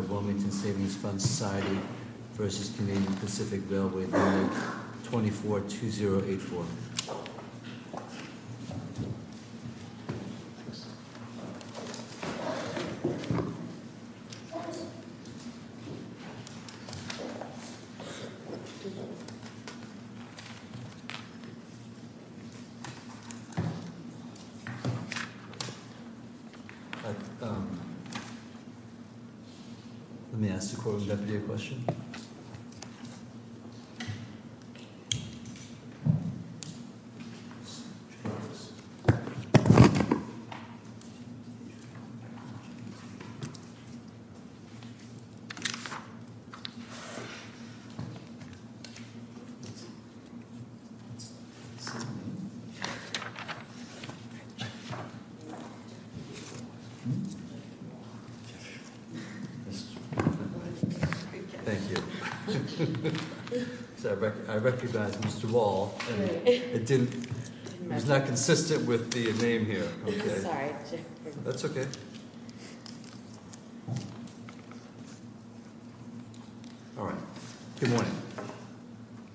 24-2084. Let me ask the Coordinating Deputy a question. Thank you. I recognize Mr. Wall. It was not consistent with the name here. I'm sorry. That's okay. All right. Good morning.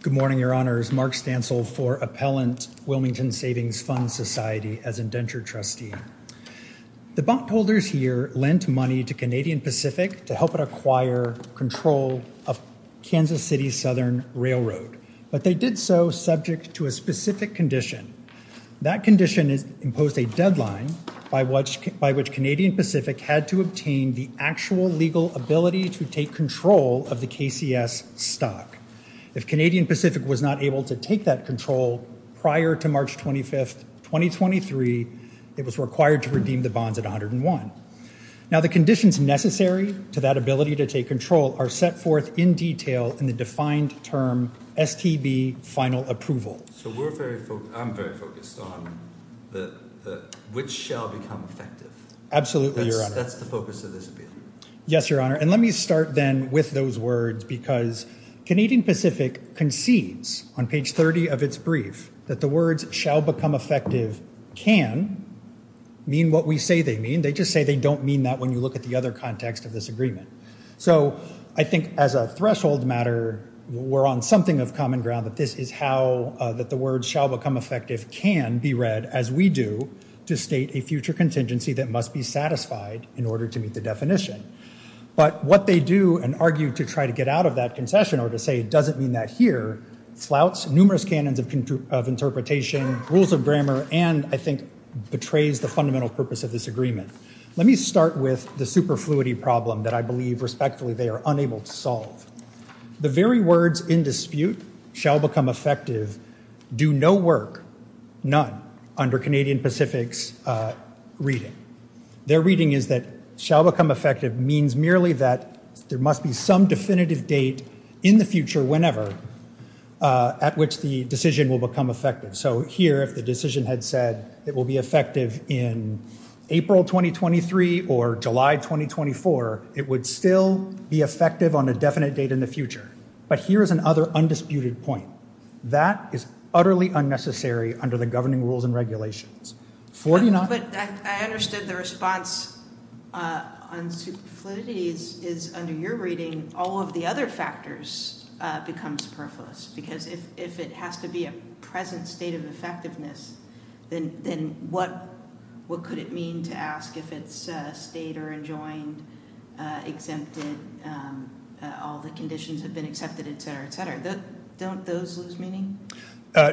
Good morning, Your Honors. Mark Stansel for Appellant, Wilmington Savings Fund Society as indentured trustee. The bondholders here lent money to Canadian Pacific to help it acquire control of Kansas City Southern Railroad. But they did so subject to a specific condition. That condition imposed a deadline by which Canadian Pacific had to obtain the actual legal ability to take control of the KCS stock. If Canadian Pacific was not able to take that control prior to March 25th, 2023, it was required to redeem the bonds at 101. Now, the conditions necessary to that ability to take control are set forth in detail in the defined term STB final approval. So, I'm very focused on which shall become effective. Absolutely, Your Honor. That's the focus of this appeal. Yes, Your Honor. And let me start then with those words because Canadian Pacific concedes on page 30 of its brief that the words shall become effective can mean what we say they mean. They just say they don't mean that when you look at the other context of this agreement. So, I think as a threshold matter, we're on something of common ground that this is how that the words shall become effective can be read as we do to state a future contingency that must be satisfied in order to meet the definition. But what they do and argue to try to get out of that concession or to say it doesn't mean that here flouts numerous canons of interpretation, rules of grammar, and I think betrays the fundamental purpose of this agreement. Let me start with the superfluity problem that I believe respectfully they are unable to solve. The very words in dispute shall become effective do no work, none, under Canadian Pacific's reading. Their reading is that shall become effective means merely that there must be some definitive date in the future whenever at which the decision will become effective. So, here if the decision had said it will be effective in April 2023 or July 2024, it would still be effective on a definite date in the future. But here is another undisputed point. That is utterly unnecessary under the governing rules and regulations. But I understood the response on superfluity is under your reading all of the other factors become superfluous. Because if it has to be a present state of effectiveness, then what could it mean to ask if it's a state or enjoined, exempted, all the conditions have been accepted, et cetera, et cetera. Don't those lose meaning?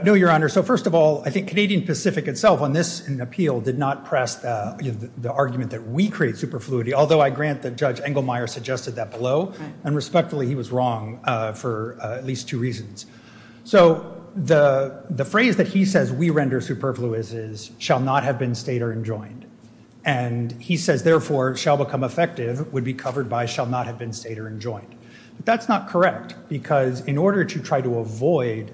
No, Your Honor. So, first of all, I think Canadian Pacific itself on this appeal did not press the argument that we create superfluity, although I grant that Judge Engelmeyer suggested that below. And respectfully, he was wrong for at least two reasons. So, the phrase that he says we render superfluous is shall not have been state or enjoined. And he says, therefore, shall become effective would be covered by shall not have been state or enjoined. But that's not correct because in order to try to avoid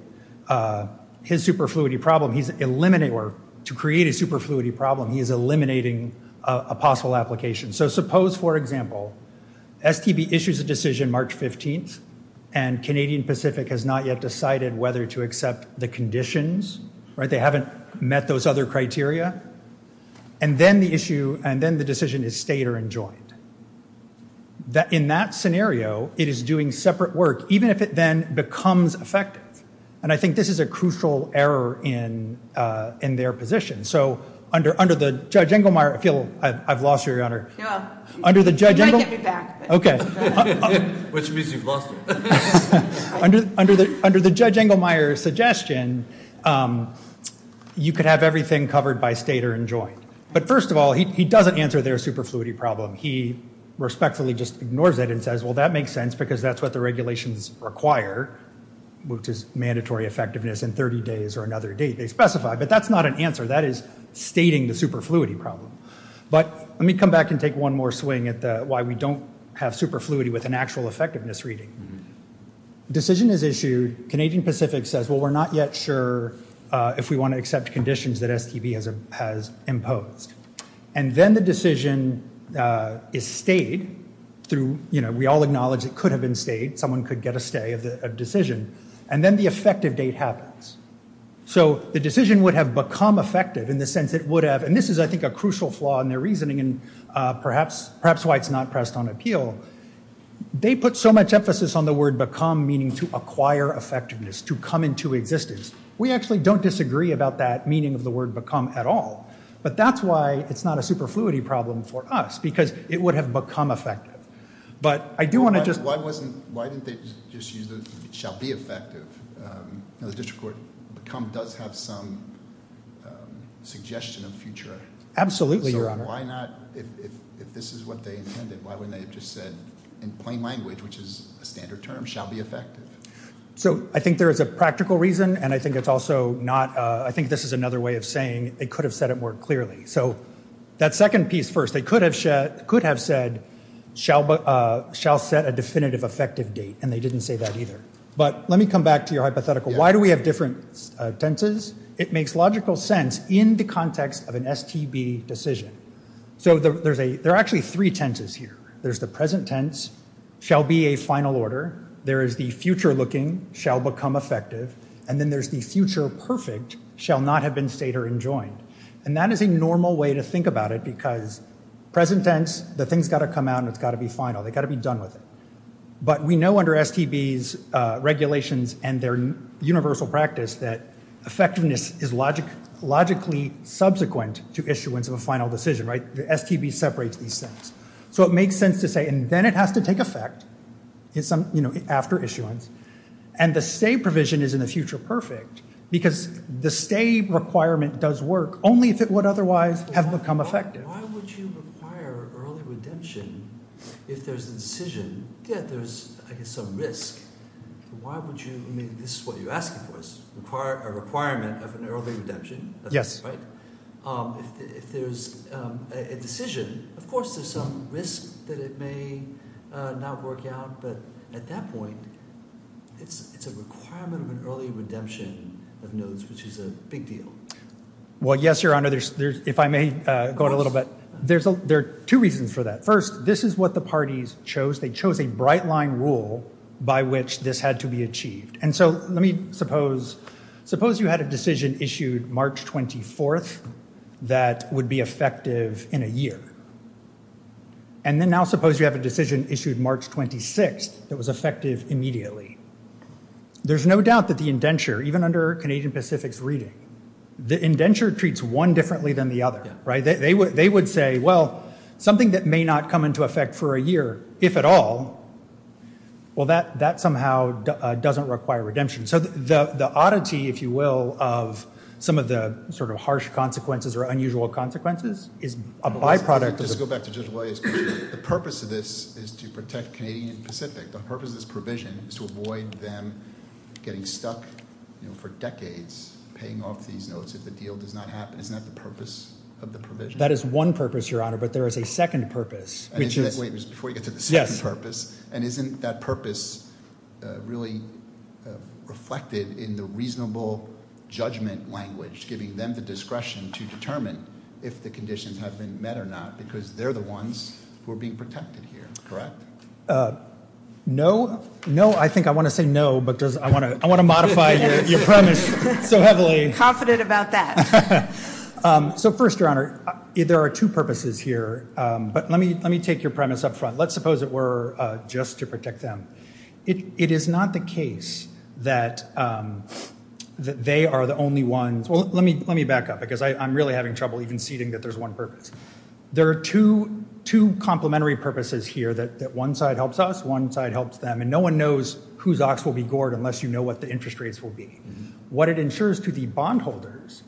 his superfluity problem, he's eliminating or to create a superfluity problem, he is eliminating a possible application. So, suppose, for example, STB issues a decision March 15th and Canadian Pacific has not yet decided whether to accept the conditions, right? They haven't met those other criteria. And then the issue and then the decision is state or enjoined. In that scenario, it is doing separate work, even if it then becomes effective. And I think this is a crucial error in their position. So, under the Judge Engelmeyer, I feel I've lost you, Your Honor. You might get me back. Which means you've lost me. Under the Judge Engelmeyer's suggestion, you could have everything covered by state or enjoined. But, first of all, he doesn't answer their superfluity problem. He respectfully just ignores it and says, well, that makes sense because that's what the regulations require, which is mandatory effectiveness in 30 days or another date. They specify. But that's not an answer. That is stating the superfluity problem. But let me come back and take one more swing at why we don't have superfluity with an actual effectiveness reading. Decision is issued. Canadian Pacific says, well, we're not yet sure if we want to accept conditions that STB has imposed. And then the decision is stayed through, you know, we all acknowledge it could have been stayed. Someone could get a stay of the decision. And then the effective date happens. So, the decision would have become effective in the sense it would have. And this is, I think, a crucial flaw in their reasoning and perhaps why it's not pressed on appeal. They put so much emphasis on the word become meaning to acquire effectiveness, to come into existence. We actually don't disagree about that meaning of the word become at all. But that's why it's not a superfluity problem for us because it would have become effective. But I do want to just- Why didn't they just use the shall be effective? The district court become does have some suggestion of future. Absolutely, Your Honor. So, why not, if this is what they intended, why wouldn't they have just said in plain language, which is a standard term, shall be effective? So, I think there is a practical reason. And I think it's also not- I think this is another way of saying they could have said it more clearly. So, that second piece first, they could have said shall set a definitive effective date. And they didn't say that either. But let me come back to your hypothetical. Why do we have different tenses? It makes logical sense in the context of an STB decision. So, there are actually three tenses here. There's the present tense, shall be a final order. There is the future looking, shall become effective. And then there's the future perfect, shall not have been stated or enjoined. And that is a normal way to think about it because present tense, the thing's got to come out and it's got to be final. They've got to be done with it. But we know under STB's regulations and their universal practice that effectiveness is logically subsequent to issuance of a final decision, right? The STB separates these things. So, it makes sense to say- and then it has to take effect after issuance. And the STAB provision is in the future perfect because the STAB requirement does work only if it would otherwise have become effective. Why would you require early redemption if there's a decision that there's, I guess, some risk? Why would you- I mean, this is what you're asking for is a requirement of an early redemption. Yes. Right? If there's a decision, of course, there's some risk that it may not work out. But at that point, it's a requirement of an early redemption of notes, which is a big deal. Well, yes, Your Honor. If I may go in a little bit, there are two reasons for that. First, this is what the parties chose. They chose a bright line rule by which this had to be achieved. And so, let me suppose- suppose you had a decision issued March 24th that would be effective in a year. And then now suppose you have a decision issued March 26th that was effective immediately. There's no doubt that the indenture, even under Canadian Pacific's reading, the indenture treats one differently than the other. Right? So the oddity, if you will, of some of the sort of harsh consequences or unusual consequences is a byproduct of- Just go back to Judge Walia's question. The purpose of this is to protect Canadian Pacific. The purpose of this provision is to avoid them getting stuck for decades paying off these notes if the deal does not happen. Isn't that the purpose of the provision? That is one purpose, Your Honor, but there is a second purpose, which is- Wait, before you get to the second purpose. Yes. And isn't that purpose really reflected in the reasonable judgment language giving them the discretion to determine if the conditions have been met or not because they're the ones who are being protected here, correct? No. No, I think I want to say no because I want to modify your premise so heavily. Confident about that. So first, Your Honor, there are two purposes here. But let me take your premise up front. Let's suppose it were just to protect them. It is not the case that they are the only ones- Well, let me back up because I'm really having trouble even ceding that there's one purpose. There are two complementary purposes here, that one side helps us, one side helps them, and no one knows whose ox will be gored unless you know what the interest rates will be. What it ensures to the bondholders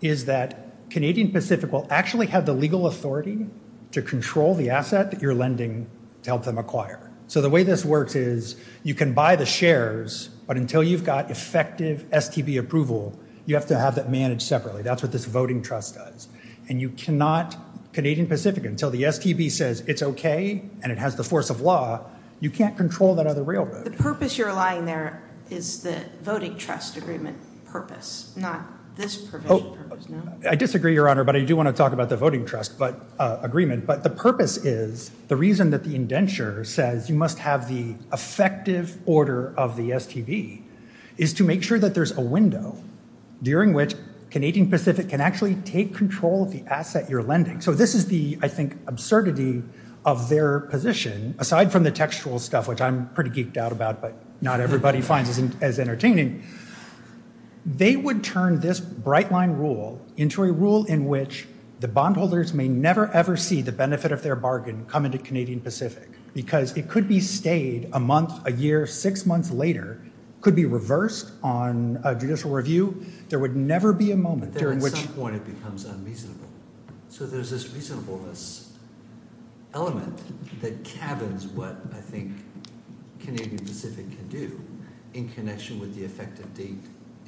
is that Canadian Pacific will actually have the legal authority to control the asset that you're lending to help them acquire. So the way this works is you can buy the shares, but until you've got effective STB approval, you have to have that managed separately. That's what this voting trust does. And you cannot, Canadian Pacific, until the STB says it's okay and it has the force of law, you can't control that other railroad. The purpose you're allying there is the voting trust agreement purpose, not this provision. I disagree, Your Honor, but I do want to talk about the voting trust agreement. But the purpose is, the reason that the indenture says you must have the effective order of the STB, is to make sure that there's a window during which Canadian Pacific can actually take control of the asset you're lending. So this is the, I think, absurdity of their position, aside from the textual stuff, which I'm pretty geeked out about, but not everybody finds as entertaining. They would turn this bright line rule into a rule in which the bondholders may never, ever see the benefit of their bargain come into Canadian Pacific. Because it could be stayed a month, a year, six months later, could be reversed on a judicial review. There would never be a moment during which... So there's this reasonableness element that cabins what I think Canadian Pacific can do in connection with the effective date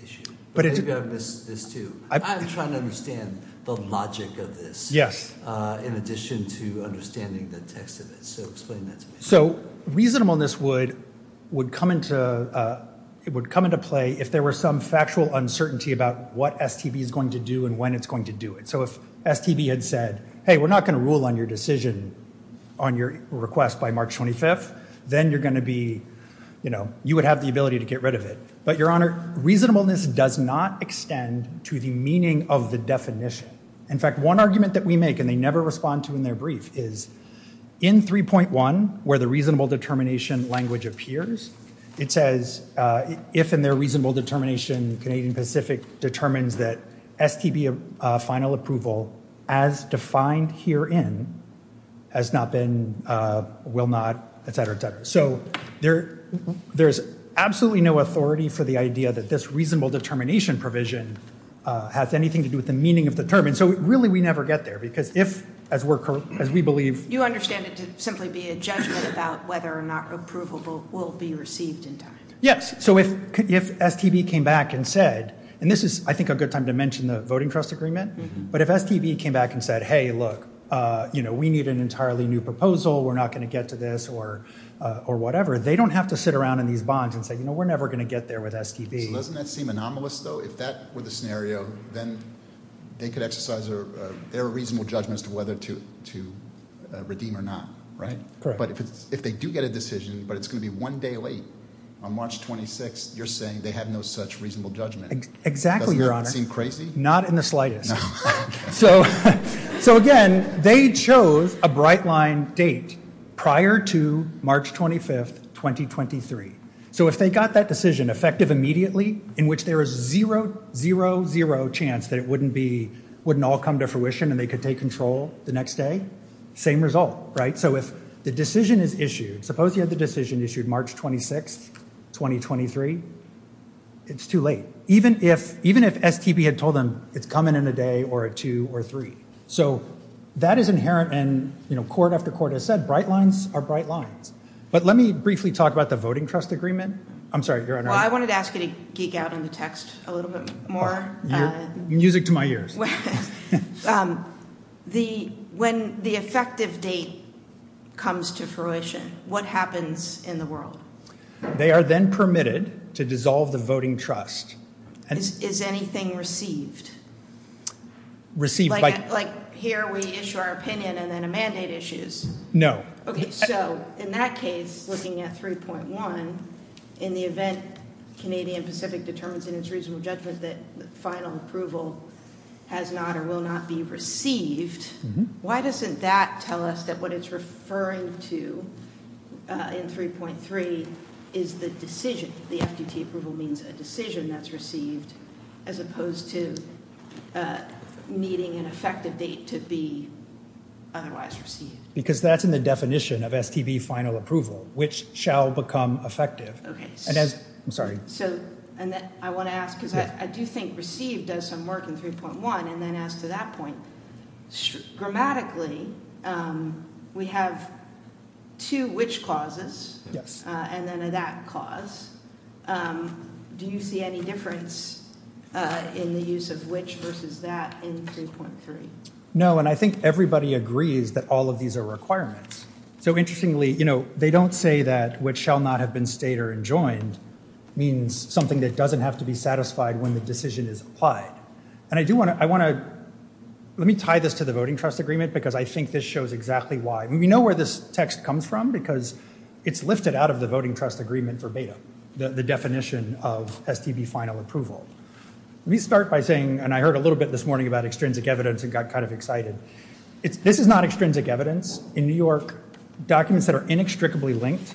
issue. But maybe I've missed this too. I'm trying to understand the logic of this. Yes. In addition to understanding the text of it. So explain that to me. So reasonableness would come into play if there were some factual uncertainty about what STB is going to do and when it's going to do it. So if STB had said, hey, we're not going to rule on your decision on your request by March 25th, then you're going to be, you know, you would have the ability to get rid of it. But, Your Honor, reasonableness does not extend to the meaning of the definition. In fact, one argument that we make, and they never respond to in their brief, is in 3.1, where the reasonable determination language appears, it says, if in their reasonable determination Canadian Pacific determines that STB final approval as defined herein has not been, will not, et cetera, et cetera. So there's absolutely no authority for the idea that this reasonable determination provision has anything to do with the meaning of the term. And so really we never get there because if, as we believe... You understand it to simply be a judgment about whether or not approval will be received in time. Yes. So if STB came back and said, and this is, I think, a good time to mention the Voting Trust Agreement, but if STB came back and said, hey, look, you know, we need an entirely new proposal, we're not going to get to this, or whatever, they don't have to sit around in these bonds and say, you know, we're never going to get there with STB. Doesn't that seem anomalous, though? If that were the scenario, then they could exercise their reasonable judgment as to whether to redeem or not, right? Correct. But if they do get a decision, but it's going to be one day late, on March 26, you're saying they have no such reasonable judgment. Exactly, Your Honor. Doesn't that seem crazy? Not in the slightest. No. So if they got that decision effective immediately, in which there is zero, zero, zero chance that it wouldn't all come to fruition and they could take control the next day, same result, right? So if the decision is issued, suppose you had the decision issued March 26, 2023, it's too late. Even if STB had told them it's coming in a day or a two or three. So that is inherent, and, you know, court after court has said bright lines are bright lines. But let me briefly talk about the voting trust agreement. I'm sorry, Your Honor. Well, I wanted to ask you to geek out on the text a little bit more. Music to my ears. When the effective date comes to fruition, what happens in the world? They are then permitted to dissolve the voting trust. Is anything received? Received by? Like here we issue our opinion and then a mandate issues. No. So in that case, looking at 3.1, in the event Canadian Pacific determines in its reasonable judgment that the final approval has not or will not be received, why doesn't that tell us that what it's referring to in 3.3 is the decision? The FDT approval means a decision that's received as opposed to meeting an effective date to be otherwise received. Because that's in the definition of STB final approval, which shall become effective. I'm sorry. So I want to ask, because I do think received does some work in 3.1. And then as to that point, grammatically, we have two which clauses and then a that clause. Do you see any difference in the use of which versus that in 3.3? No, and I think everybody agrees that all of these are requirements. So interestingly, you know, they don't say that which shall not have been stayed or enjoined means something that doesn't have to be satisfied when the decision is applied. And I do want to I want to let me tie this to the voting trust agreement, because I think this shows exactly why. We know where this text comes from, because it's lifted out of the voting trust agreement verbatim. The definition of STB final approval. Let me start by saying, and I heard a little bit this morning about extrinsic evidence and got kind of excited. This is not extrinsic evidence. In New York, documents that are inextricably linked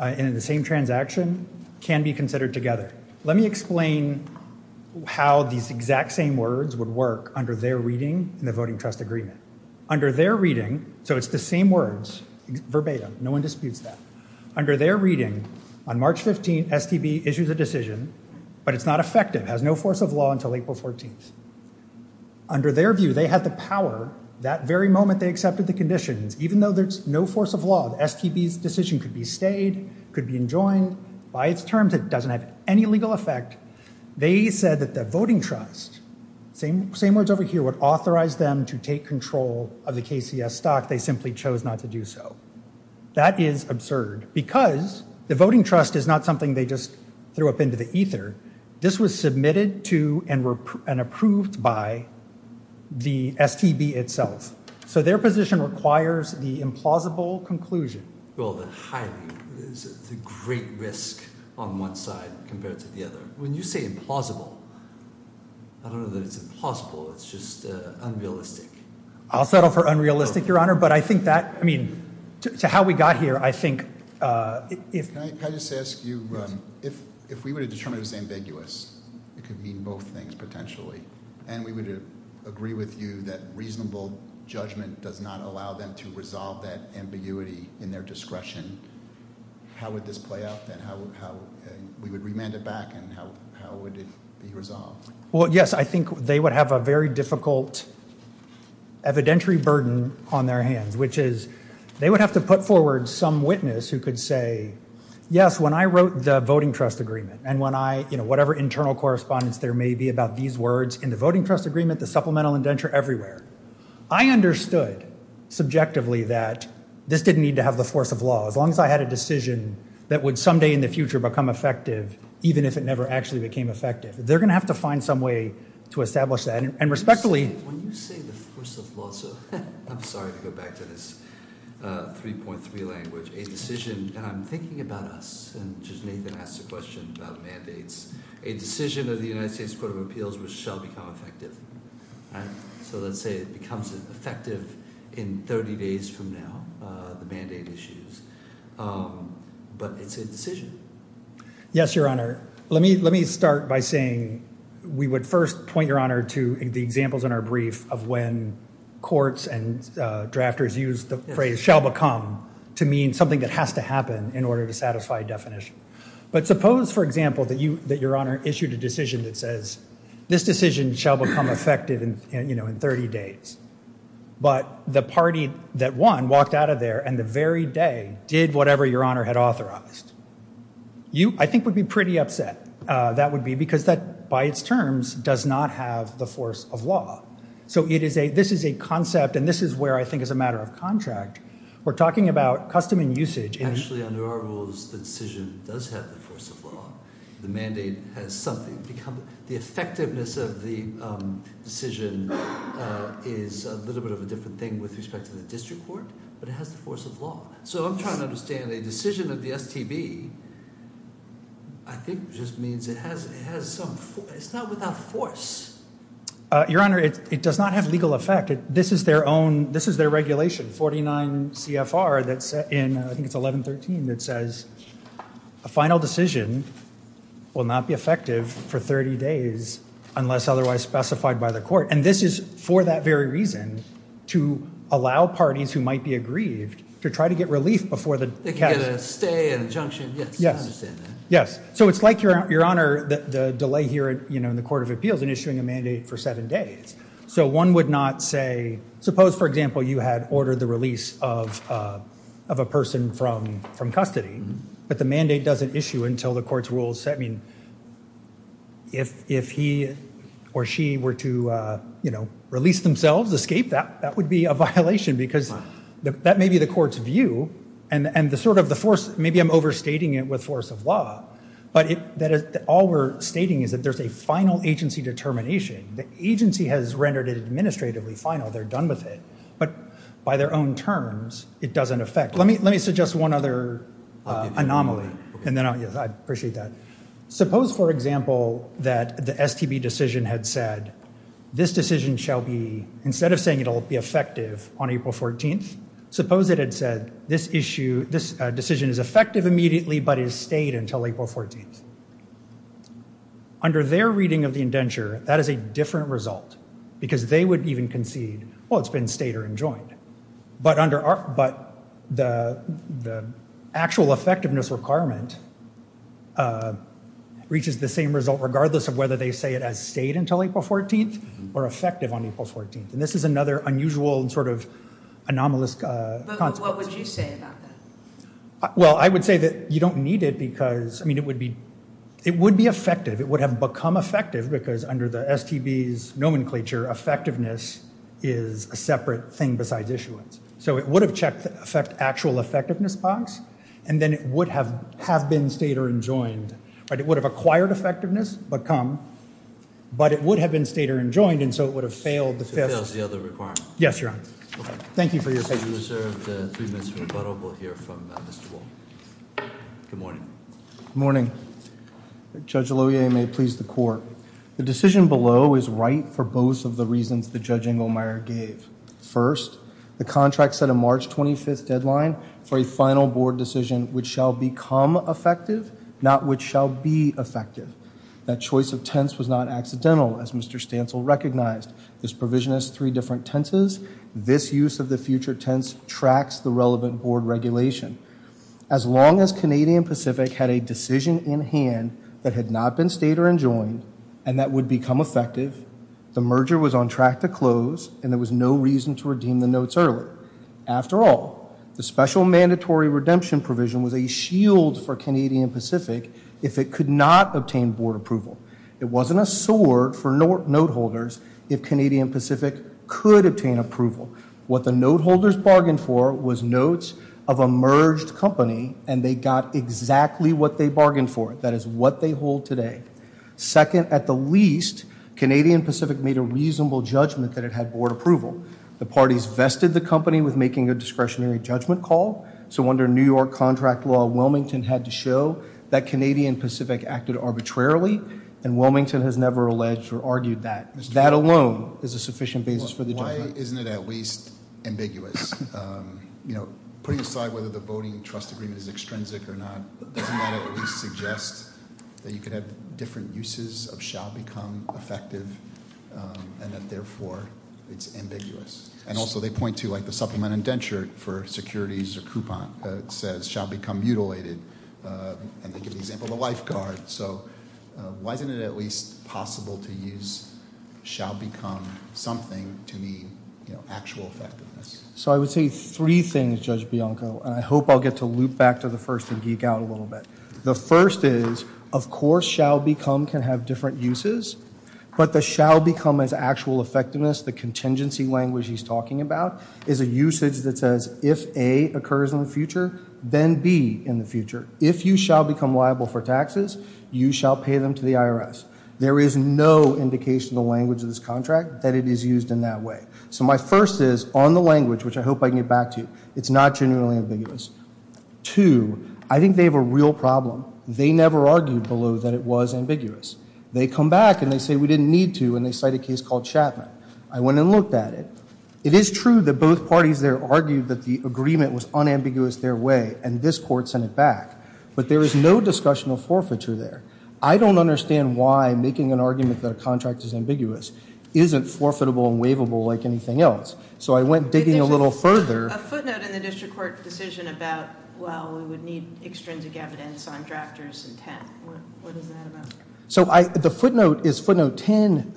in the same transaction can be considered together. Let me explain how these exact same words would work under their reading in the voting trust agreement. Under their reading, so it's the same words verbatim. No one disputes that. Under their reading, on March 15th, STB issues a decision, but it's not effective, has no force of law until April 14th. Under their view, they had the power that very moment they accepted the conditions, even though there's no force of law. STB's decision could be stayed, could be enjoined. By its terms, it doesn't have any legal effect. They said that the voting trust, same words over here, would authorize them to take control of the KCS stock. They simply chose not to do so. That is absurd because the voting trust is not something they just threw up into the ether. This was submitted to and approved by the STB itself. So their position requires the implausible conclusion. Well, the highly, the great risk on one side compared to the other. When you say implausible, I don't know that it's implausible. It's just unrealistic. I'll settle for unrealistic, your honor. But I think that, I mean, to how we got here, I think if- Can I just ask you, if we were to determine it was ambiguous, it could mean both things potentially. And we would agree with you that reasonable judgment does not allow them to resolve that ambiguity in their discretion. How would this play out? And how, we would remand it back and how would it be resolved? Well, yes, I think they would have a very difficult evidentiary burden on their hands, which is they would have to put forward some witness who could say, yes, when I wrote the voting trust agreement, and when I, you know, whatever internal correspondence there may be about these words in the voting trust agreement, the supplemental indenture everywhere, I understood subjectively that this didn't need to have the force of law. As long as I had a decision that would someday in the future become effective, even if it never actually became effective. They're going to have to find some way to establish that. And respectfully- When you say the force of law, sir, I'm sorry to go back to this 3.3 language. A decision, and I'm thinking about us, and just Nathan asked a question about mandates. A decision of the United States Court of Appeals which shall become effective. So let's say it becomes effective in 30 days from now, the mandate issues, but it's a decision. Yes, your honor. Let me start by saying we would first point your honor to the examples in our brief of when courts and drafters use the phrase shall become to mean something that has to happen in order to satisfy a definition. But suppose, for example, that your honor issued a decision that says this decision shall become effective in 30 days. But the party that won walked out of there and the very day did whatever your honor had authorized. You, I think, would be pretty upset. That would be because that, by its terms, does not have the force of law. So this is a concept, and this is where I think as a matter of contract, we're talking about custom and usage. Actually, under our rules, the decision does have the force of law. The mandate has something. The effectiveness of the decision is a little bit of a different thing with respect to the district court, but it has the force of law. So I'm trying to understand a decision of the STB, I think just means it has some, it's not without force. Your honor, it does not have legal effect. This is their own, this is their regulation, 49 CFR that's in, I think it's 1113, that says a final decision will not be effective for 30 days unless otherwise specified by the court. And this is for that very reason, to allow parties who might be aggrieved to try to get relief before the. They can get a stay, an injunction, yes, I understand that. Yes. So it's like, your honor, the delay here in the Court of Appeals in issuing a mandate for seven days. So one would not say, suppose, for example, you had ordered the release of a person from custody. But the mandate doesn't issue until the court's rules set. I mean, if he or she were to, you know, release themselves, escape, that would be a violation because that may be the court's view. And the sort of the force, maybe I'm overstating it with force of law, but all we're stating is that there's a final agency determination. The agency has rendered it administratively final. They're done with it. But by their own terms, it doesn't affect. Let me suggest one other anomaly, and then I'll, yes, I appreciate that. Suppose, for example, that the STB decision had said, this decision shall be, instead of saying it'll be effective on April 14th, suppose it had said, this issue, this decision is effective immediately but is stayed until April 14th. Under their reading of the indenture, that is a different result because they would even concede, well, it's been stayed or enjoined. But the actual effectiveness requirement reaches the same result regardless of whether they say it has stayed until April 14th or effective on April 14th. And this is another unusual sort of anomalous consequence. But what would you say about that? Well, I would say that you don't need it because, I mean, it would be effective. It would have become effective because under the STB's nomenclature, effectiveness is a separate thing besides issuance. So it would have checked the actual effectiveness box, and then it would have been stayed or enjoined. But it would have acquired effectiveness but come. But it would have been stayed or enjoined, and so it would have failed the fifth. So it fails the other requirement. Yes, Your Honor. Okay. Thank you for your attention. We reserve three minutes for rebuttal. We'll hear from Mr. Wall. Good morning. Good morning. Judge Lohier, you may please the court. The decision below is right for both of the reasons that Judge Engelmeyer gave. First, the contract set a March 25th deadline for a final board decision which shall become effective, not which shall be effective. That choice of tense was not accidental, as Mr. Stancil recognized. This provision has three different tenses. This use of the future tense tracks the relevant board regulation. As long as Canadian Pacific had a decision in hand that had not been stayed or enjoined and that would become effective, the merger was on track to close, and there was no reason to redeem the notes early. After all, the special mandatory redemption provision was a shield for Canadian Pacific if it could not obtain board approval. It wasn't a sword for note holders if Canadian Pacific could obtain approval. What the note holders bargained for was notes of a merged company, and they got exactly what they bargained for. That is what they hold today. Second, at the least, Canadian Pacific made a reasonable judgment that it had board approval. The parties vested the company with making a discretionary judgment call, so under New York contract law, Wilmington had to show that Canadian Pacific acted arbitrarily, and Wilmington has never alleged or argued that. That alone is a sufficient basis for the judgment. Why isn't it at least ambiguous? You know, putting aside whether the voting trust agreement is extrinsic or not, doesn't that at least suggest that you could have different uses of shall become effective and that, therefore, it's ambiguous? And also they point to, like, the supplement indenture for securities or coupon says shall become mutilated, and they give the example of the lifeguard. So why isn't it at least possible to use shall become something to mean actual effectiveness? So I would say three things, Judge Bianco, and I hope I'll get to loop back to the first and geek out a little bit. The first is, of course, shall become can have different uses, but the shall become as actual effectiveness, the contingency language he's talking about, is a usage that says if A occurs in the future, then B in the future. If you shall become liable for taxes, you shall pay them to the IRS. There is no indication in the language of this contract that it is used in that way. So my first is, on the language, which I hope I can get back to, it's not genuinely ambiguous. Two, I think they have a real problem. They never argued below that it was ambiguous. They come back, and they say we didn't need to, and they cite a case called Chapman. I went and looked at it. It is true that both parties there argued that the agreement was unambiguous their way, and this court sent it back. But there is no discussion of forfeiture there. I don't understand why making an argument that a contract is ambiguous isn't forfeitable and waivable like anything else. So I went digging a little further. There's a footnote in the district court decision about, well, we would need extrinsic evidence on drafters and 10. What is that about? So the footnote is footnote 10,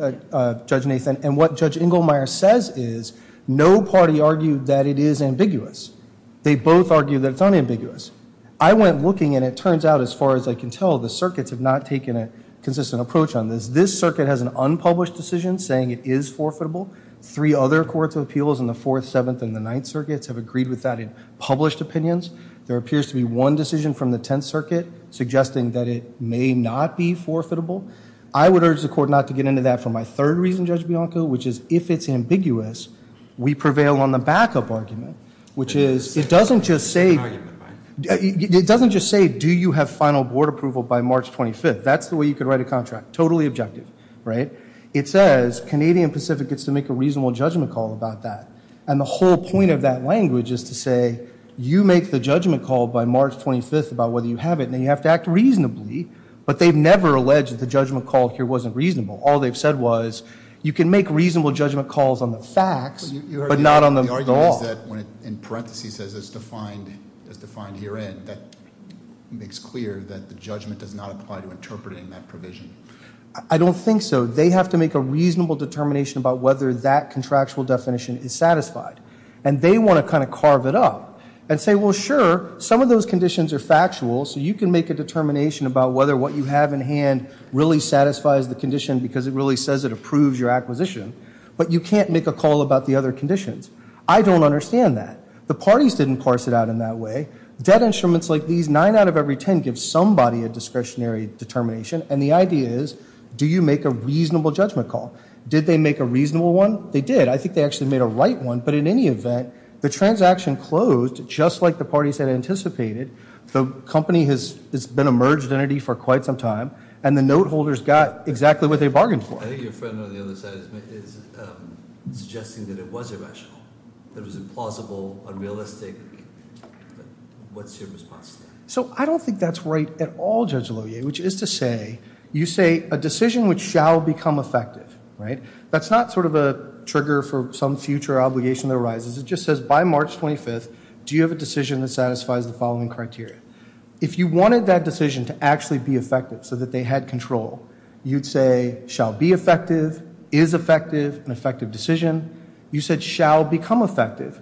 Judge Nathan, and what Judge Inglemeyer says is no party argued that it is ambiguous. They both argued that it's unambiguous. I went looking, and it turns out, as far as I can tell, the circuits have not taken a consistent approach on this. This circuit has an unpublished decision saying it is forfeitable. Three other courts of appeals in the Fourth, Seventh, and the Ninth Circuits have agreed with that in published opinions. There appears to be one decision from the Tenth Circuit suggesting that it may not be forfeitable. I would urge the court not to get into that for my third reason, Judge Bianco, which is if it's ambiguous, we prevail on the backup argument, which is it doesn't just say do you have final board approval by March 25th. That's the way you could write a contract, totally objective, right? It says Canadian Pacific gets to make a reasonable judgment call about that, and the whole point of that language is to say you make the judgment call by March 25th about whether you have it, and then you have to act reasonably, but they've never alleged that the judgment call here wasn't reasonable. All they've said was you can make reasonable judgment calls on the facts, but not on the law. The argument is that when it in parentheses says it's defined herein, that makes clear that the judgment does not apply to interpreting that provision. I don't think so. They have to make a reasonable determination about whether that contractual definition is satisfied, and they want to kind of carve it up and say, well, sure, some of those conditions are factual, so you can make a determination about whether what you have in hand really satisfies the condition because it really says it approves your acquisition, but you can't make a call about the other conditions. I don't understand that. The parties didn't parse it out in that way. Debt instruments like these, nine out of every ten, give somebody a discretionary determination, and the idea is do you make a reasonable judgment call? Did they make a reasonable one? They did. I think they actually made a right one, but in any event, the transaction closed just like the parties had anticipated. The company has been a merged entity for quite some time, and the note holders got exactly what they bargained for. I think your friend on the other side is suggesting that it was irrational, that it was implausible, unrealistic. What's your response to that? So I don't think that's right at all, Judge Lohier, which is to say you say a decision which shall become effective, right? That's not sort of a trigger for some future obligation that arises. It just says by March 25th, do you have a decision that satisfies the following criteria? If you wanted that decision to actually be effective so that they had control, you'd say shall be effective, is effective, an effective decision. You said shall become effective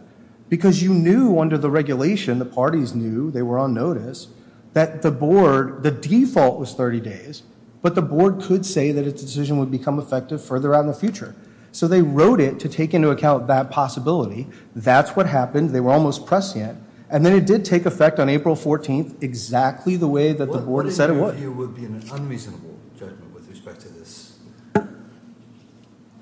because you knew under the regulation, the parties knew, they were on notice, that the board, the default was 30 days, but the board could say that its decision would become effective further on in the future. So they wrote it to take into account that possibility. That's what happened. They were almost prescient, and then it did take effect on April 14th exactly the way that the board said it would. What do you think here would be an unreasonable judgment with respect to this?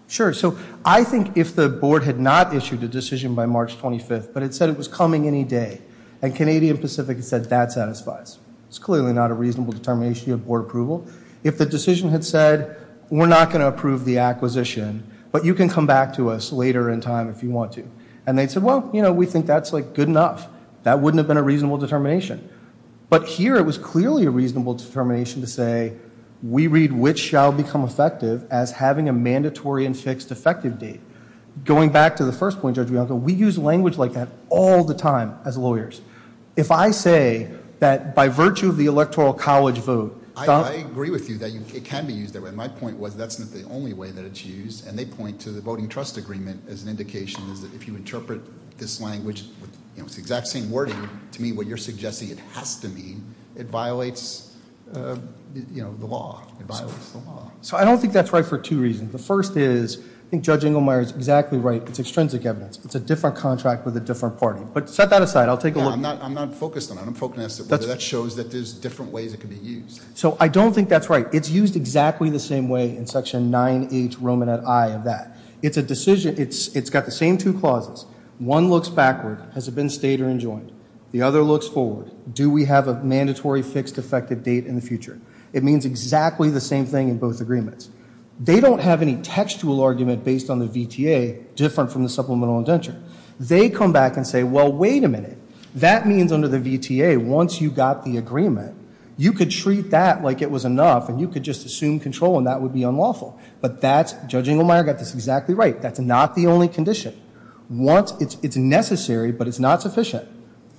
Sure. So I think if the board had not issued a decision by March 25th, but it said it was coming any day, and Canadian Pacific said that satisfies, it's clearly not a reasonable determination. You have board approval. If the decision had said we're not going to approve the acquisition, but you can come back to us later in time if you want to, and they said, well, you know, we think that's like good enough, that wouldn't have been a reasonable determination. But here it was clearly a reasonable determination to say we read which shall become effective as having a mandatory and fixed effective date. Going back to the first point, Judge Bianco, we use language like that all the time as lawyers. If I say that by virtue of the Electoral College vote. I agree with you that it can be used that way. My point was that's not the only way that it's used, and they point to the voting trust agreement as an indication, is that if you interpret this language with the exact same wording to mean what you're suggesting it has to mean, it violates, you know, the law. It violates the law. So I don't think that's right for two reasons. The first is I think Judge Engelmeyer is exactly right. It's extrinsic evidence. It's a different contract with a different party. But set that aside. I'll take a look. I'm not focused on that. I'm focused on whether that shows that there's different ways it can be used. So I don't think that's right. It's used exactly the same way in Section 9H Roman at I of that. It's a decision. It's got the same two clauses. One looks backward. Has it been stayed or enjoined? The other looks forward. Do we have a mandatory fixed effective date in the future? It means exactly the same thing in both agreements. They don't have any textual argument based on the VTA different from the supplemental indenture. They come back and say, well, wait a minute. That means under the VTA, once you got the agreement, you could treat that like it was enough, and you could just assume control, and that would be unlawful. Judge Engelmeyer got this exactly right. That's not the only condition. It's necessary, but it's not sufficient.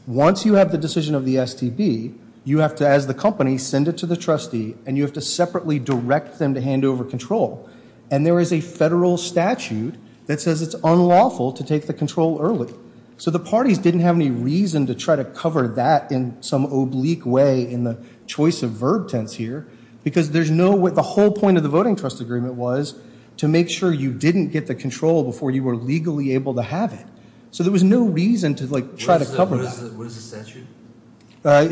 Once you have the decision of the STB, you have to, as the company, send it to the trustee, and you have to separately direct them to hand over control. And there is a federal statute that says it's unlawful to take the control early. So the parties didn't have any reason to try to cover that in some oblique way in the choice of verb tense here because the whole point of the voting trust agreement was to make sure you didn't get the control before you were legally able to have it. So there was no reason to try to cover that. What is the statute? I'll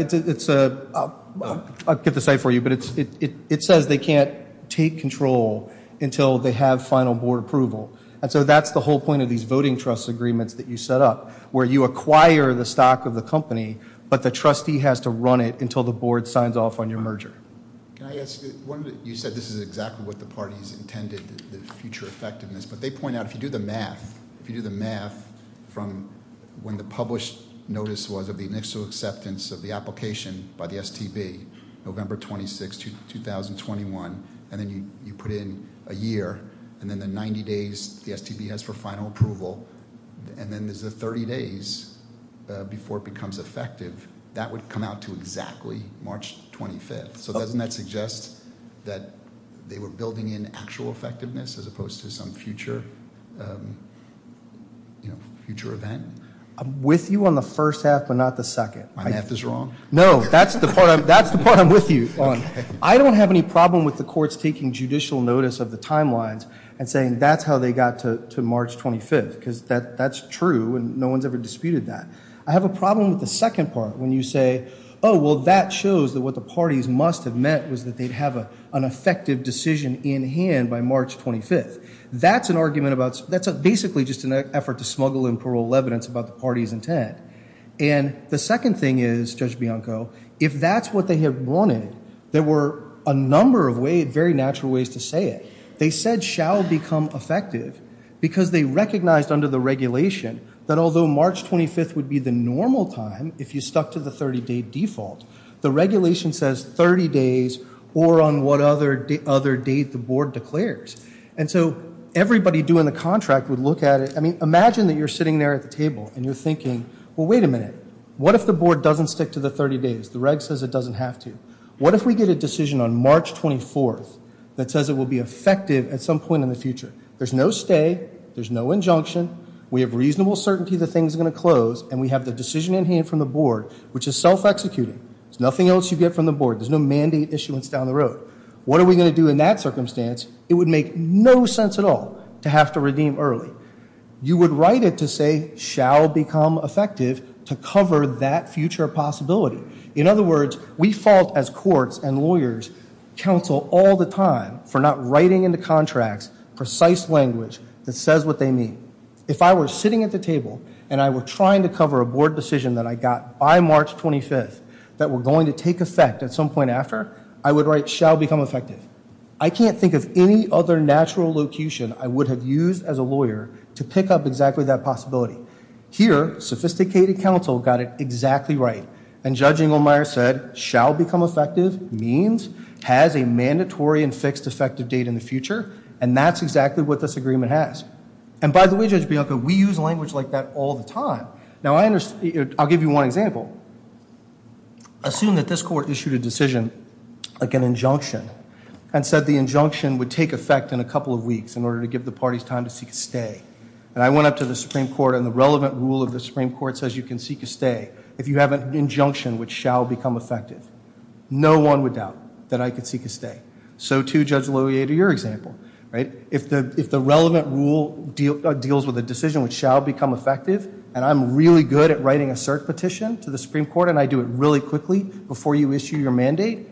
get the site for you, but it says they can't take control until they have final board approval. And so that's the whole point of these voting trust agreements that you set up, where you acquire the stock of the company, but the trustee has to run it until the board signs off on your merger. You said this is exactly what the parties intended, the future effectiveness, but they point out if you do the math, if you do the math from when the published notice was of the initial acceptance of the application by the STB, November 26, 2021, and then you put in a year, and then the 90 days the STB has for final approval, and then there's the 30 days before it becomes effective, that would come out to exactly March 25th. So doesn't that suggest that they were building in actual effectiveness as opposed to some future event? I'm with you on the first half, but not the second. My math is wrong? No, that's the part I'm with you on. I don't have any problem with the courts taking judicial notice of the timelines and saying that's how they got to March 25th because that's true and no one's ever disputed that. I have a problem with the second part when you say, oh, well, that shows that what the parties must have meant was that they'd have an effective decision in hand by March 25th. That's an argument about, that's basically just an effort to smuggle in plural evidence about the party's intent. And the second thing is, Judge Bianco, if that's what they had wanted, there were a number of very natural ways to say it. They said shall become effective because they recognized under the regulation that although March 25th would be the normal time if you stuck to the 30-day default, the regulation says 30 days or on what other date the board declares. And so everybody doing the contract would look at it. I mean, imagine that you're sitting there at the table and you're thinking, well, wait a minute. What if the board doesn't stick to the 30 days? The reg says it doesn't have to. What if we get a decision on March 24th that says it will be effective at some point in the future? There's no stay. There's no injunction. We have reasonable certainty the thing's going to close, and we have the decision in hand from the board, which is self-executing. There's nothing else you get from the board. There's no mandate issuance down the road. What are we going to do in that circumstance? It would make no sense at all to have to redeem early. You would write it to say shall become effective to cover that future possibility. In other words, we fault as courts and lawyers counsel all the time for not writing into contracts precise language that says what they mean. If I were sitting at the table and I were trying to cover a board decision that I got by March 25th that were going to take effect at some point after, I would write shall become effective. I can't think of any other natural locution I would have used as a lawyer to pick up exactly that possibility. Here, sophisticated counsel got it exactly right. And Judge Inglemeyer said shall become effective means has a mandatory and fixed effective date in the future, and that's exactly what this agreement has. And by the way, Judge Bianco, we use language like that all the time. Now, I'll give you one example. Assume that this court issued a decision, like an injunction, and said the injunction would take effect in a couple of weeks in order to give the parties time to seek a stay. And I went up to the Supreme Court, and the relevant rule of the Supreme Court says you can seek a stay if you have an injunction which shall become effective. No one would doubt that I could seek a stay. So, too, Judge Loyer, to your example. If the relevant rule deals with a decision which shall become effective, and I'm really good at writing a cert petition to the Supreme Court, and I do it really quickly before you issue your mandate,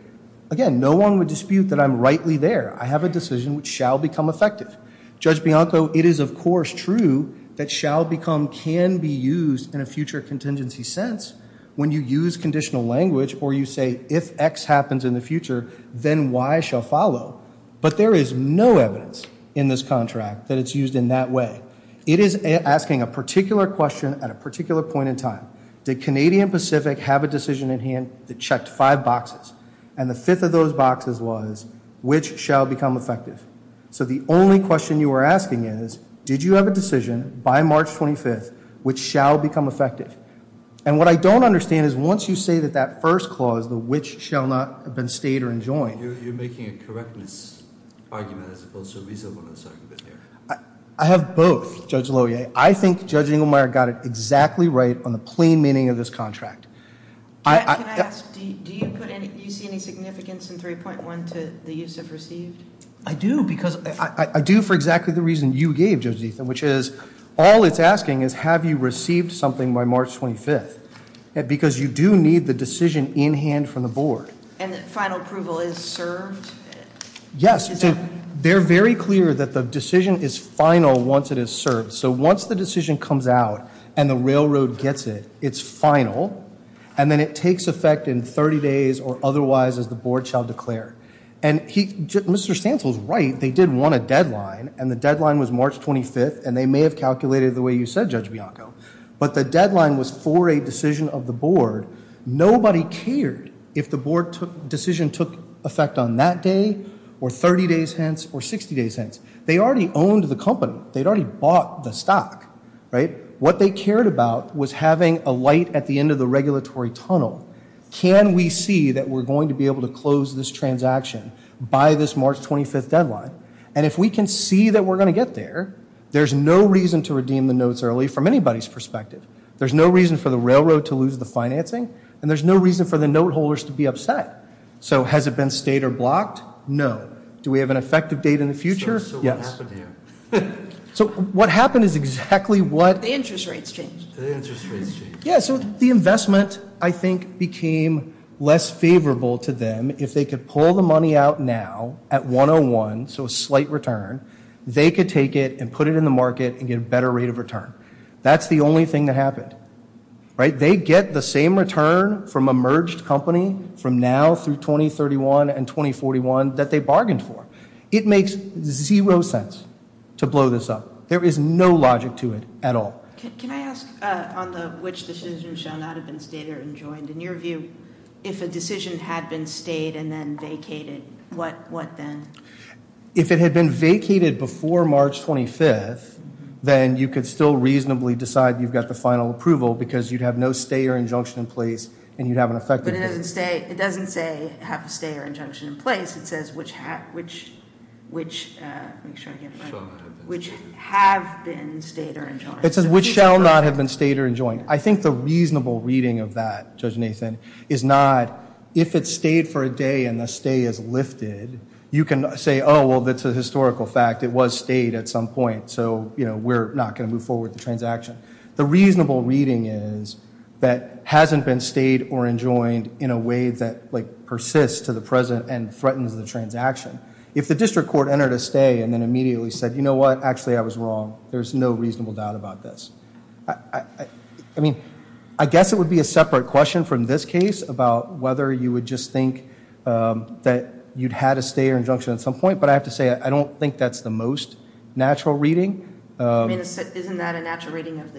again, no one would dispute that I'm rightly there. I have a decision which shall become effective. Judge Bianco, it is, of course, true that shall become can be used in a future contingency sense when you use conditional language or you say if X happens in the future, then Y shall follow. But there is no evidence in this contract that it's used in that way. It is asking a particular question at a particular point in time. Did Canadian Pacific have a decision at hand that checked five boxes, and the fifth of those boxes was which shall become effective? So the only question you are asking is, did you have a decision by March 25th which shall become effective? And what I don't understand is once you say that that first clause, the which shall not have been stayed or enjoined. You're making a correctness argument as opposed to a reasonableness argument here. I have both, Judge Loyer. I think Judge Engelmeyer got it exactly right on the plain meaning of this contract. Can I ask, do you see any significance in 3.1 to the use of received? I do because I do for exactly the reason you gave, Judge Ethan, which is all it's asking is have you received something by March 25th because you do need the decision in hand from the board. And final approval is served? Yes. They're very clear that the decision is final once it is served. So once the decision comes out and the railroad gets it, it's final, and then it takes effect in 30 days or otherwise as the board shall declare. Mr. Stansel is right. They did want a deadline, and the deadline was March 25th, and they may have calculated it the way you said, Judge Bianco, but the deadline was for a decision of the board. Nobody cared if the board decision took effect on that day or 30 days hence or 60 days hence. They already owned the company. They'd already bought the stock, right? What they cared about was having a light at the end of the regulatory tunnel. Can we see that we're going to be able to close this transaction by this March 25th deadline? And if we can see that we're going to get there, there's no reason to redeem the notes early from anybody's perspective. There's no reason for the railroad to lose the financing, and there's no reason for the note holders to be upset. So has it been stayed or blocked? No. Do we have an effective date in the future? Yes. So what happened here? So what happened is exactly what? The interest rates changed. The interest rates changed. Yeah, so the investment, I think, became less favorable to them. If they could pull the money out now at 101, so a slight return, they could take it and put it in the market and get a better rate of return. That's the only thing that happened, right? They get the same return from a merged company from now through 2031 and 2041 that they bargained for. It makes zero sense to blow this up. There is no logic to it at all. Can I ask on the which decision shall not have been stayed or enjoined? In your view, if a decision had been stayed and then vacated, what then? If it had been vacated before March 25th, then you could still reasonably decide you've got the final approval because you'd have no stay or injunction in place and you'd have an effective date. But it doesn't say have a stay or injunction in place. It says which have been stayed or enjoined. It says which shall not have been stayed or enjoined. I think the reasonable reading of that, Judge Nathan, is not if it's stayed for a day and the stay is lifted, you can say, oh, well, that's a historical fact. It was stayed at some point. So, you know, we're not going to move forward with the transaction. The reasonable reading is that hasn't been stayed or enjoined in a way that, like, persists to the present and threatens the transaction. If the district court entered a stay and then immediately said, you know what? Actually, I was wrong. There's no reasonable doubt about this. I mean, I guess it would be a separate question from this case about whether you would just think that you'd had a stay or injunction at some point. But I have to say I don't think that's the most natural reading. I mean, isn't that a natural reading of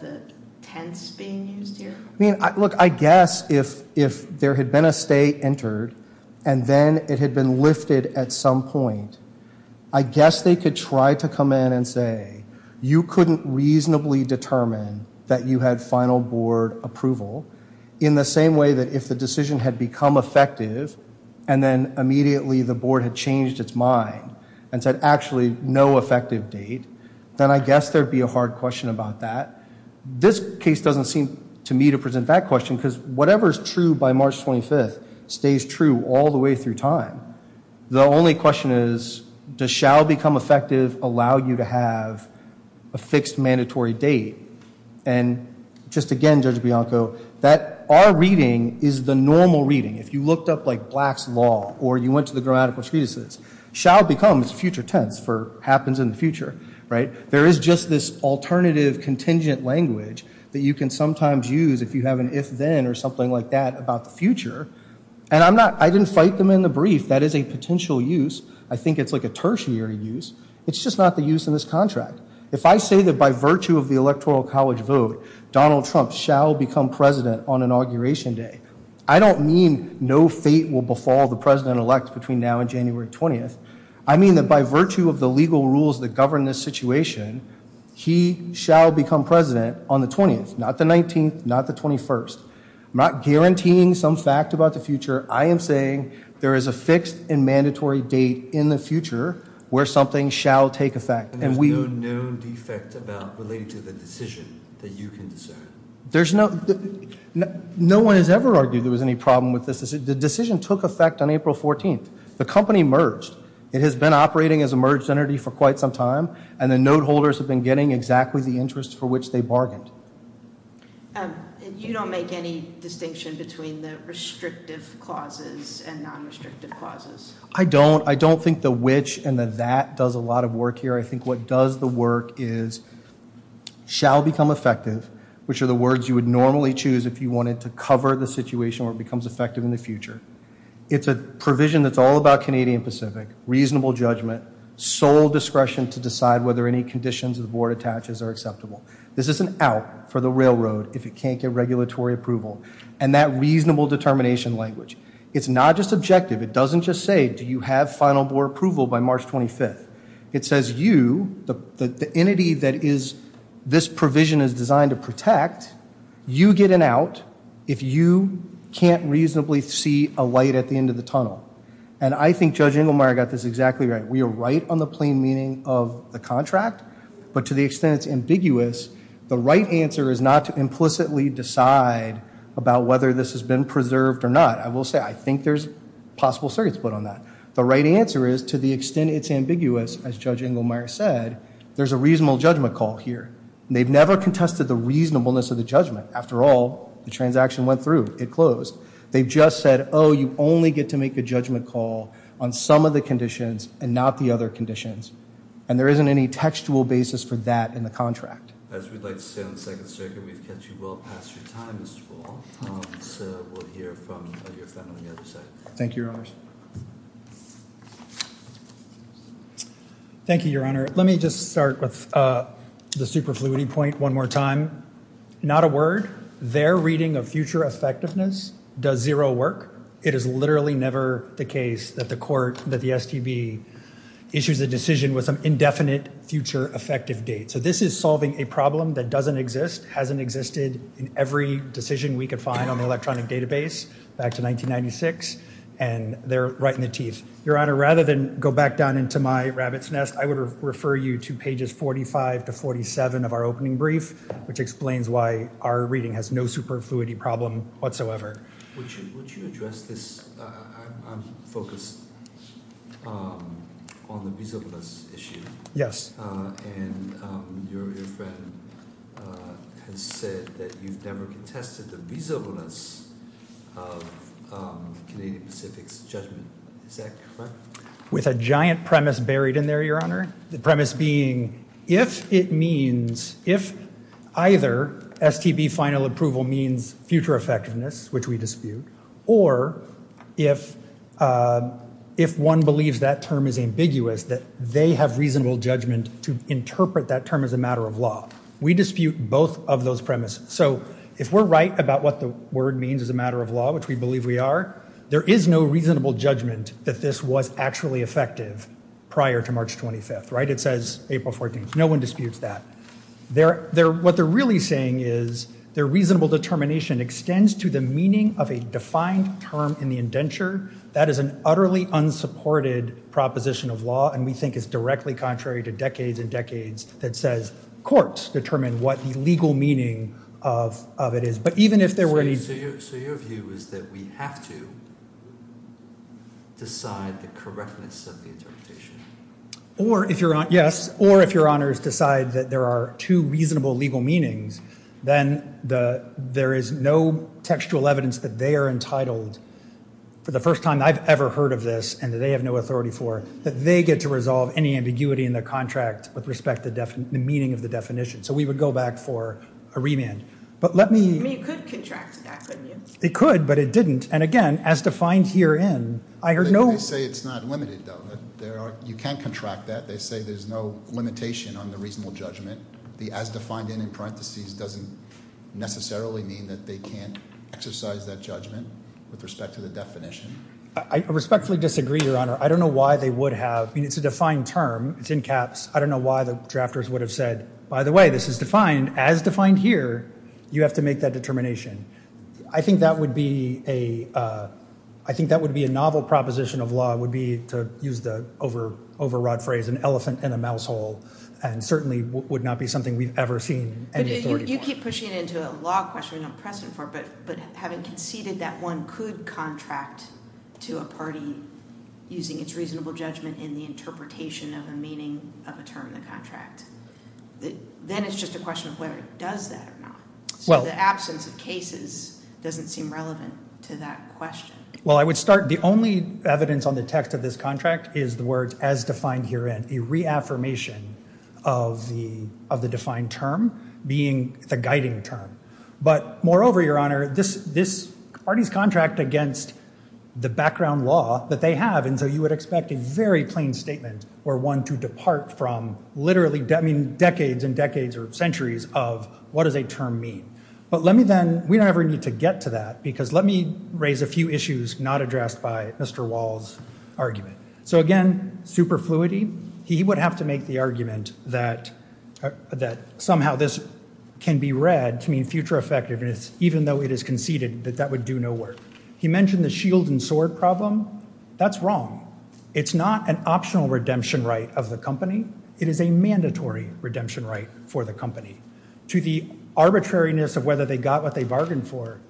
the tense being used here? I mean, look, I guess if there had been a stay entered and then it had been lifted at some point, I guess they could try to come in and say you couldn't reasonably determine that you had final board approval in the same way that if the decision had become effective and then immediately the board had changed its mind and said actually no effective date, then I guess there'd be a hard question about that. This case doesn't seem to me to present that question because whatever's true by March 25th stays true all the way through time. The only question is does shall become effective allow you to have a fixed mandatory date? And just again, Judge Bianco, that our reading is the normal reading. If you looked up like Black's Law or you went to the grammatical treatises, shall become is future tense for happens in the future, right? There is just this alternative contingent language that you can sometimes use if you have an if then or something like that about the future. And I didn't fight them in the brief. That is a potential use. I think it's like a tertiary use. It's just not the use in this contract. If I say that by virtue of the Electoral College vote, Donald Trump shall become president on inauguration day, I don't mean no fate will befall the president-elect between now and January 20th. I mean that by virtue of the legal rules that govern this situation, he shall become president on the 20th, not the 19th, not the 21st. I'm not guaranteeing some fact about the future. I am saying there is a fixed and mandatory date in the future where something shall take effect. And there's no known defect about related to the decision that you can discern? There's no—no one has ever argued there was any problem with this. The decision took effect on April 14th. The company merged. It has been operating as a merged entity for quite some time, and the note holders have been getting exactly the interest for which they bargained. And you don't make any distinction between the restrictive clauses and non-restrictive clauses? I don't. I don't think the which and the that does a lot of work here. I think what does the work is shall become effective, which are the words you would normally choose if you wanted to cover the situation where it becomes effective in the future. It's a provision that's all about Canadian Pacific, reasonable judgment, sole discretion to decide whether any conditions the board attaches are acceptable. This is an out for the railroad if it can't get regulatory approval, and that reasonable determination language. It's not just objective. It doesn't just say do you have final board approval by March 25th. It says you, the entity that is—this provision is designed to protect, you get an out if you can't reasonably see a light at the end of the tunnel. And I think Judge Inglemeyer got this exactly right. We are right on the plain meaning of the contract, but to the extent it's ambiguous, the right answer is not to implicitly decide about whether this has been preserved or not. I will say I think there's possible circuits put on that. The right answer is to the extent it's ambiguous, as Judge Inglemeyer said, there's a reasonable judgment call here. They've never contested the reasonableness of the judgment. After all, the transaction went through. It closed. They just said, oh, you only get to make a judgment call on some of the conditions and not the other conditions. And there isn't any textual basis for that in the contract. As we'd like to say on the Second Circuit, we've kept you well past your time, Mr. Full. So we'll hear from your friend on the other side. Thank you, Your Honors. Thank you, Your Honor. Let me just start with the superfluity point one more time. Not a word. Their reading of future effectiveness does zero work. It is literally never the case that the court, that the STB, issues a decision with some indefinite future effective date. So this is solving a problem that doesn't exist, hasn't existed in every decision we could find on the electronic database back to 1996, and they're right in the teeth. Your Honor, rather than go back down into my rabbit's nest, I would refer you to pages 45 to 47 of our opening brief, which explains why our reading has no superfluity problem whatsoever. Would you address this? I'm focused on the reasonableness issue. Yes. And your friend has said that you've never contested the reasonableness of Canadian Pacific's judgment. Is that correct? With a giant premise buried in there, Your Honor. The premise being if it means, if either STB final approval means future effectiveness, which we dispute, or if one believes that term is ambiguous, that they have reasonable judgment to interpret that term as a matter of law. We dispute both of those premises. So if we're right about what the word means as a matter of law, which we believe we are, there is no reasonable judgment that this was actually effective prior to March 25th, right? It says April 14th. No one disputes that. What they're really saying is their reasonable determination extends to the meaning of a defined term in the indenture. That is an utterly unsupported proposition of law, and we think is directly contrary to decades and decades that says courts determine what the legal meaning of it is. So your view is that we have to decide the correctness of the interpretation? Yes, or if Your Honors decide that there are two reasonable legal meanings, then there is no textual evidence that they are entitled, for the first time I've ever heard of this, and that they have no authority for, that they get to resolve any ambiguity in their contract with respect to the meaning of the definition. So we would go back for a remand. I mean, you could contract that, couldn't you? They could, but it didn't. And again, as defined herein, I heard no— They say it's not limited, though. You can contract that. They say there's no limitation on the reasonable judgment. The as defined in parentheses doesn't necessarily mean that they can't exercise that judgment with respect to the definition. I respectfully disagree, Your Honor. I don't know why they would have. I mean, it's a defined term. It's in caps. I don't know why the drafters would have said, by the way, this is defined as defined here. You have to make that determination. I think that would be a novel proposition of law, would be to use the overwrought phrase, an elephant in a mouse hole, and certainly would not be something we've ever seen any authority for. You keep pushing it into a law question. I don't press it for it, but having conceded that one could contract to a party using its reasonable judgment in the interpretation of the meaning of a term in the contract, then it's just a question of whether it does that or not. So the absence of cases doesn't seem relevant to that question. Well, I would start—the only evidence on the text of this contract is the words as defined herein, a reaffirmation of the defined term being the guiding term. But moreover, Your Honor, this party's contract against the background law that they have, and so you would expect a very plain statement or one to depart from literally decades and decades or centuries of what does a term mean. But let me then—we don't ever need to get to that because let me raise a few issues not addressed by Mr. Wall's argument. So again, superfluity. He would have to make the argument that somehow this can be read to mean future effectiveness, even though it is conceded that that would do no work. He mentioned the shield and sword problem. That's wrong. It's not an optional redemption right of the company. It is a mandatory redemption right for the company. To the arbitrariness of whether they got what they bargained for,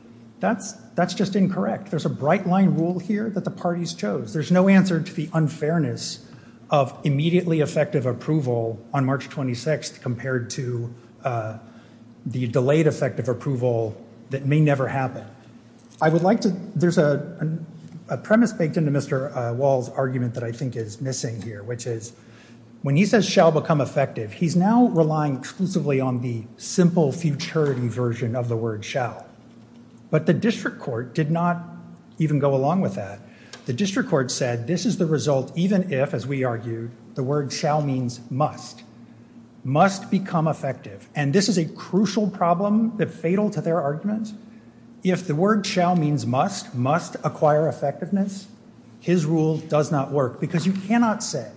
that's just incorrect. There's a bright-line rule here that the parties chose. There's no answer to the unfairness of immediately effective approval on March 26th compared to the delayed effective approval that may never happen. I would like to—there's a premise baked into Mr. Wall's argument that I think is missing here, which is when he says shall become effective, he's now relying exclusively on the simple futurity version of the word shall. But the district court did not even go along with that. The district court said this is the result even if, as we argued, the word shall means must. Must become effective. And this is a crucial problem that fatal to their arguments. If the word shall means must, must acquire effectiveness, his rule does not work because you cannot say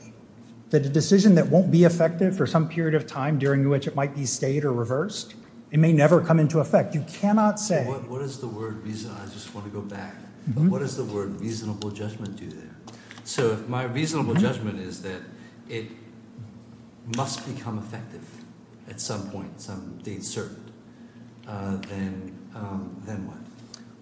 that a decision that won't be effective for some period of time during which it might be stayed or reversed, it may never come into effect. You cannot say— What is the word—I just want to go back. What does the word reasonable judgment do there? So if my reasonable judgment is that it must become effective at some point, some date certain, then what?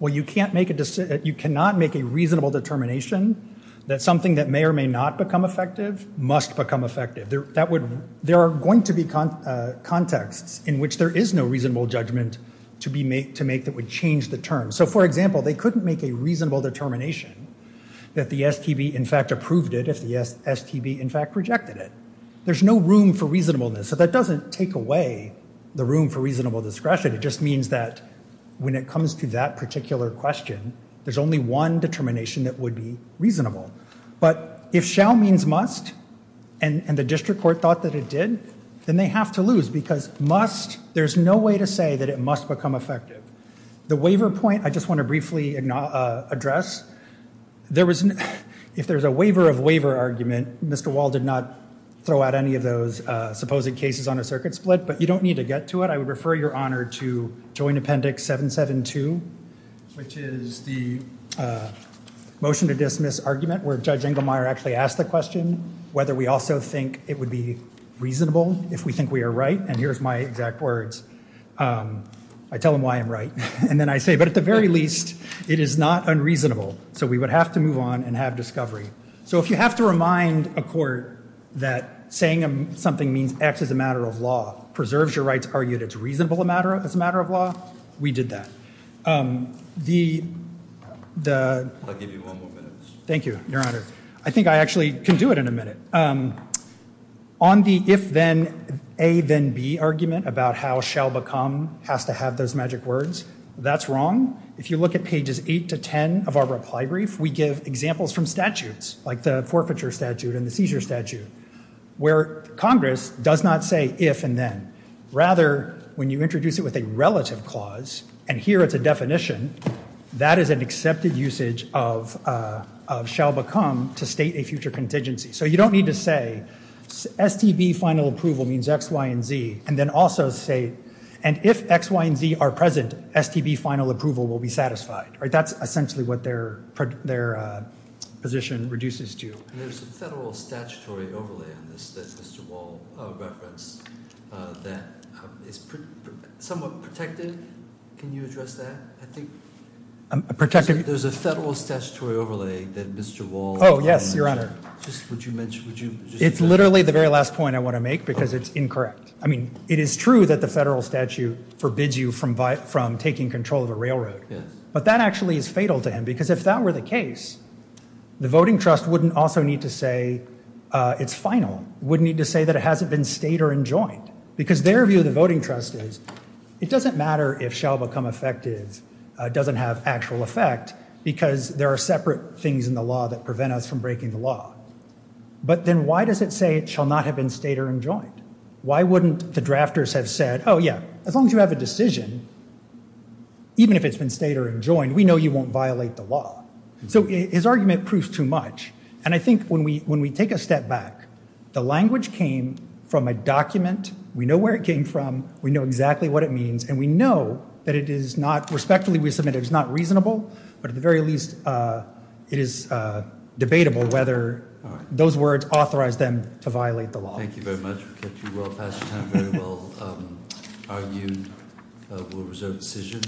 Well, you can't make a—you cannot make a reasonable determination that something that may or may not become effective must become effective. There are going to be contexts in which there is no reasonable judgment to make that would change the term. So, for example, they couldn't make a reasonable determination that the STB in fact approved it if the STB in fact rejected it. There's no room for reasonableness. So that doesn't take away the room for reasonable discretion. It just means that when it comes to that particular question, there's only one determination that would be reasonable. But if shall means must and the district court thought that it did, then they have to lose because must—there's no way to say that it must become effective. The waiver point I just want to briefly address. There was—if there's a waiver of waiver argument, Mr. Wall did not throw out any of those supposed cases on a circuit split, but you don't need to get to it. I would refer your honor to Joint Appendix 772, which is the motion to dismiss argument where Judge Inglemeyer actually asked the question whether we also think it would be reasonable if we think we are right. And here's my exact words. I tell them why I'm right, and then I say, but at the very least, it is not unreasonable. So we would have to move on and have discovery. So if you have to remind a court that saying something means X is a matter of law, preserves your right to argue that it's reasonable as a matter of law, we did that. The— I'll give you one more minute. Thank you, your honor. I think I actually can do it in a minute. On the if-then, A-then-B argument about how shall-become has to have those magic words, that's wrong. If you look at pages 8 to 10 of our reply brief, we give examples from statutes, like the forfeiture statute and the seizure statute, where Congress does not say if and then. Rather, when you introduce it with a relative clause, and here it's a definition, that is an accepted usage of shall-become to state a future contingency. So you don't need to say STB final approval means X, Y, and Z, and then also say, and if X, Y, and Z are present, STB final approval will be satisfied. That's essentially what their position reduces to. There's a federal statutory overlay on this that Mr. Wall referenced that is somewhat protected. Can you address that? There's a federal statutory overlay that Mr. Wall— Oh, yes, your honor. It's literally the very last point I want to make, because it's incorrect. I mean, it is true that the federal statute forbids you from taking control of a railroad, but that actually is fatal to him, because if that were the case, the voting trust wouldn't also need to say it's final, wouldn't need to say that it hasn't been stayed or enjoined, because their view of the voting trust is it doesn't matter if shall-become effective doesn't have actual effect, because there are separate things in the law that prevent us from breaking the law. But then why does it say it shall not have been stayed or enjoined? Why wouldn't the drafters have said, oh, yeah, as long as you have a decision, even if it's been stayed or enjoined, we know you won't violate the law. So his argument proves too much, and I think when we take a step back, the language came from a document. We know where it came from. We know exactly what it means, and we know that it is not— respectfully, we submit it is not reasonable, but at the very least, it is debatable whether those words authorize them to violate the law. Thank you very much. We've kept you well past your time, very well argued. We'll reserve the decision.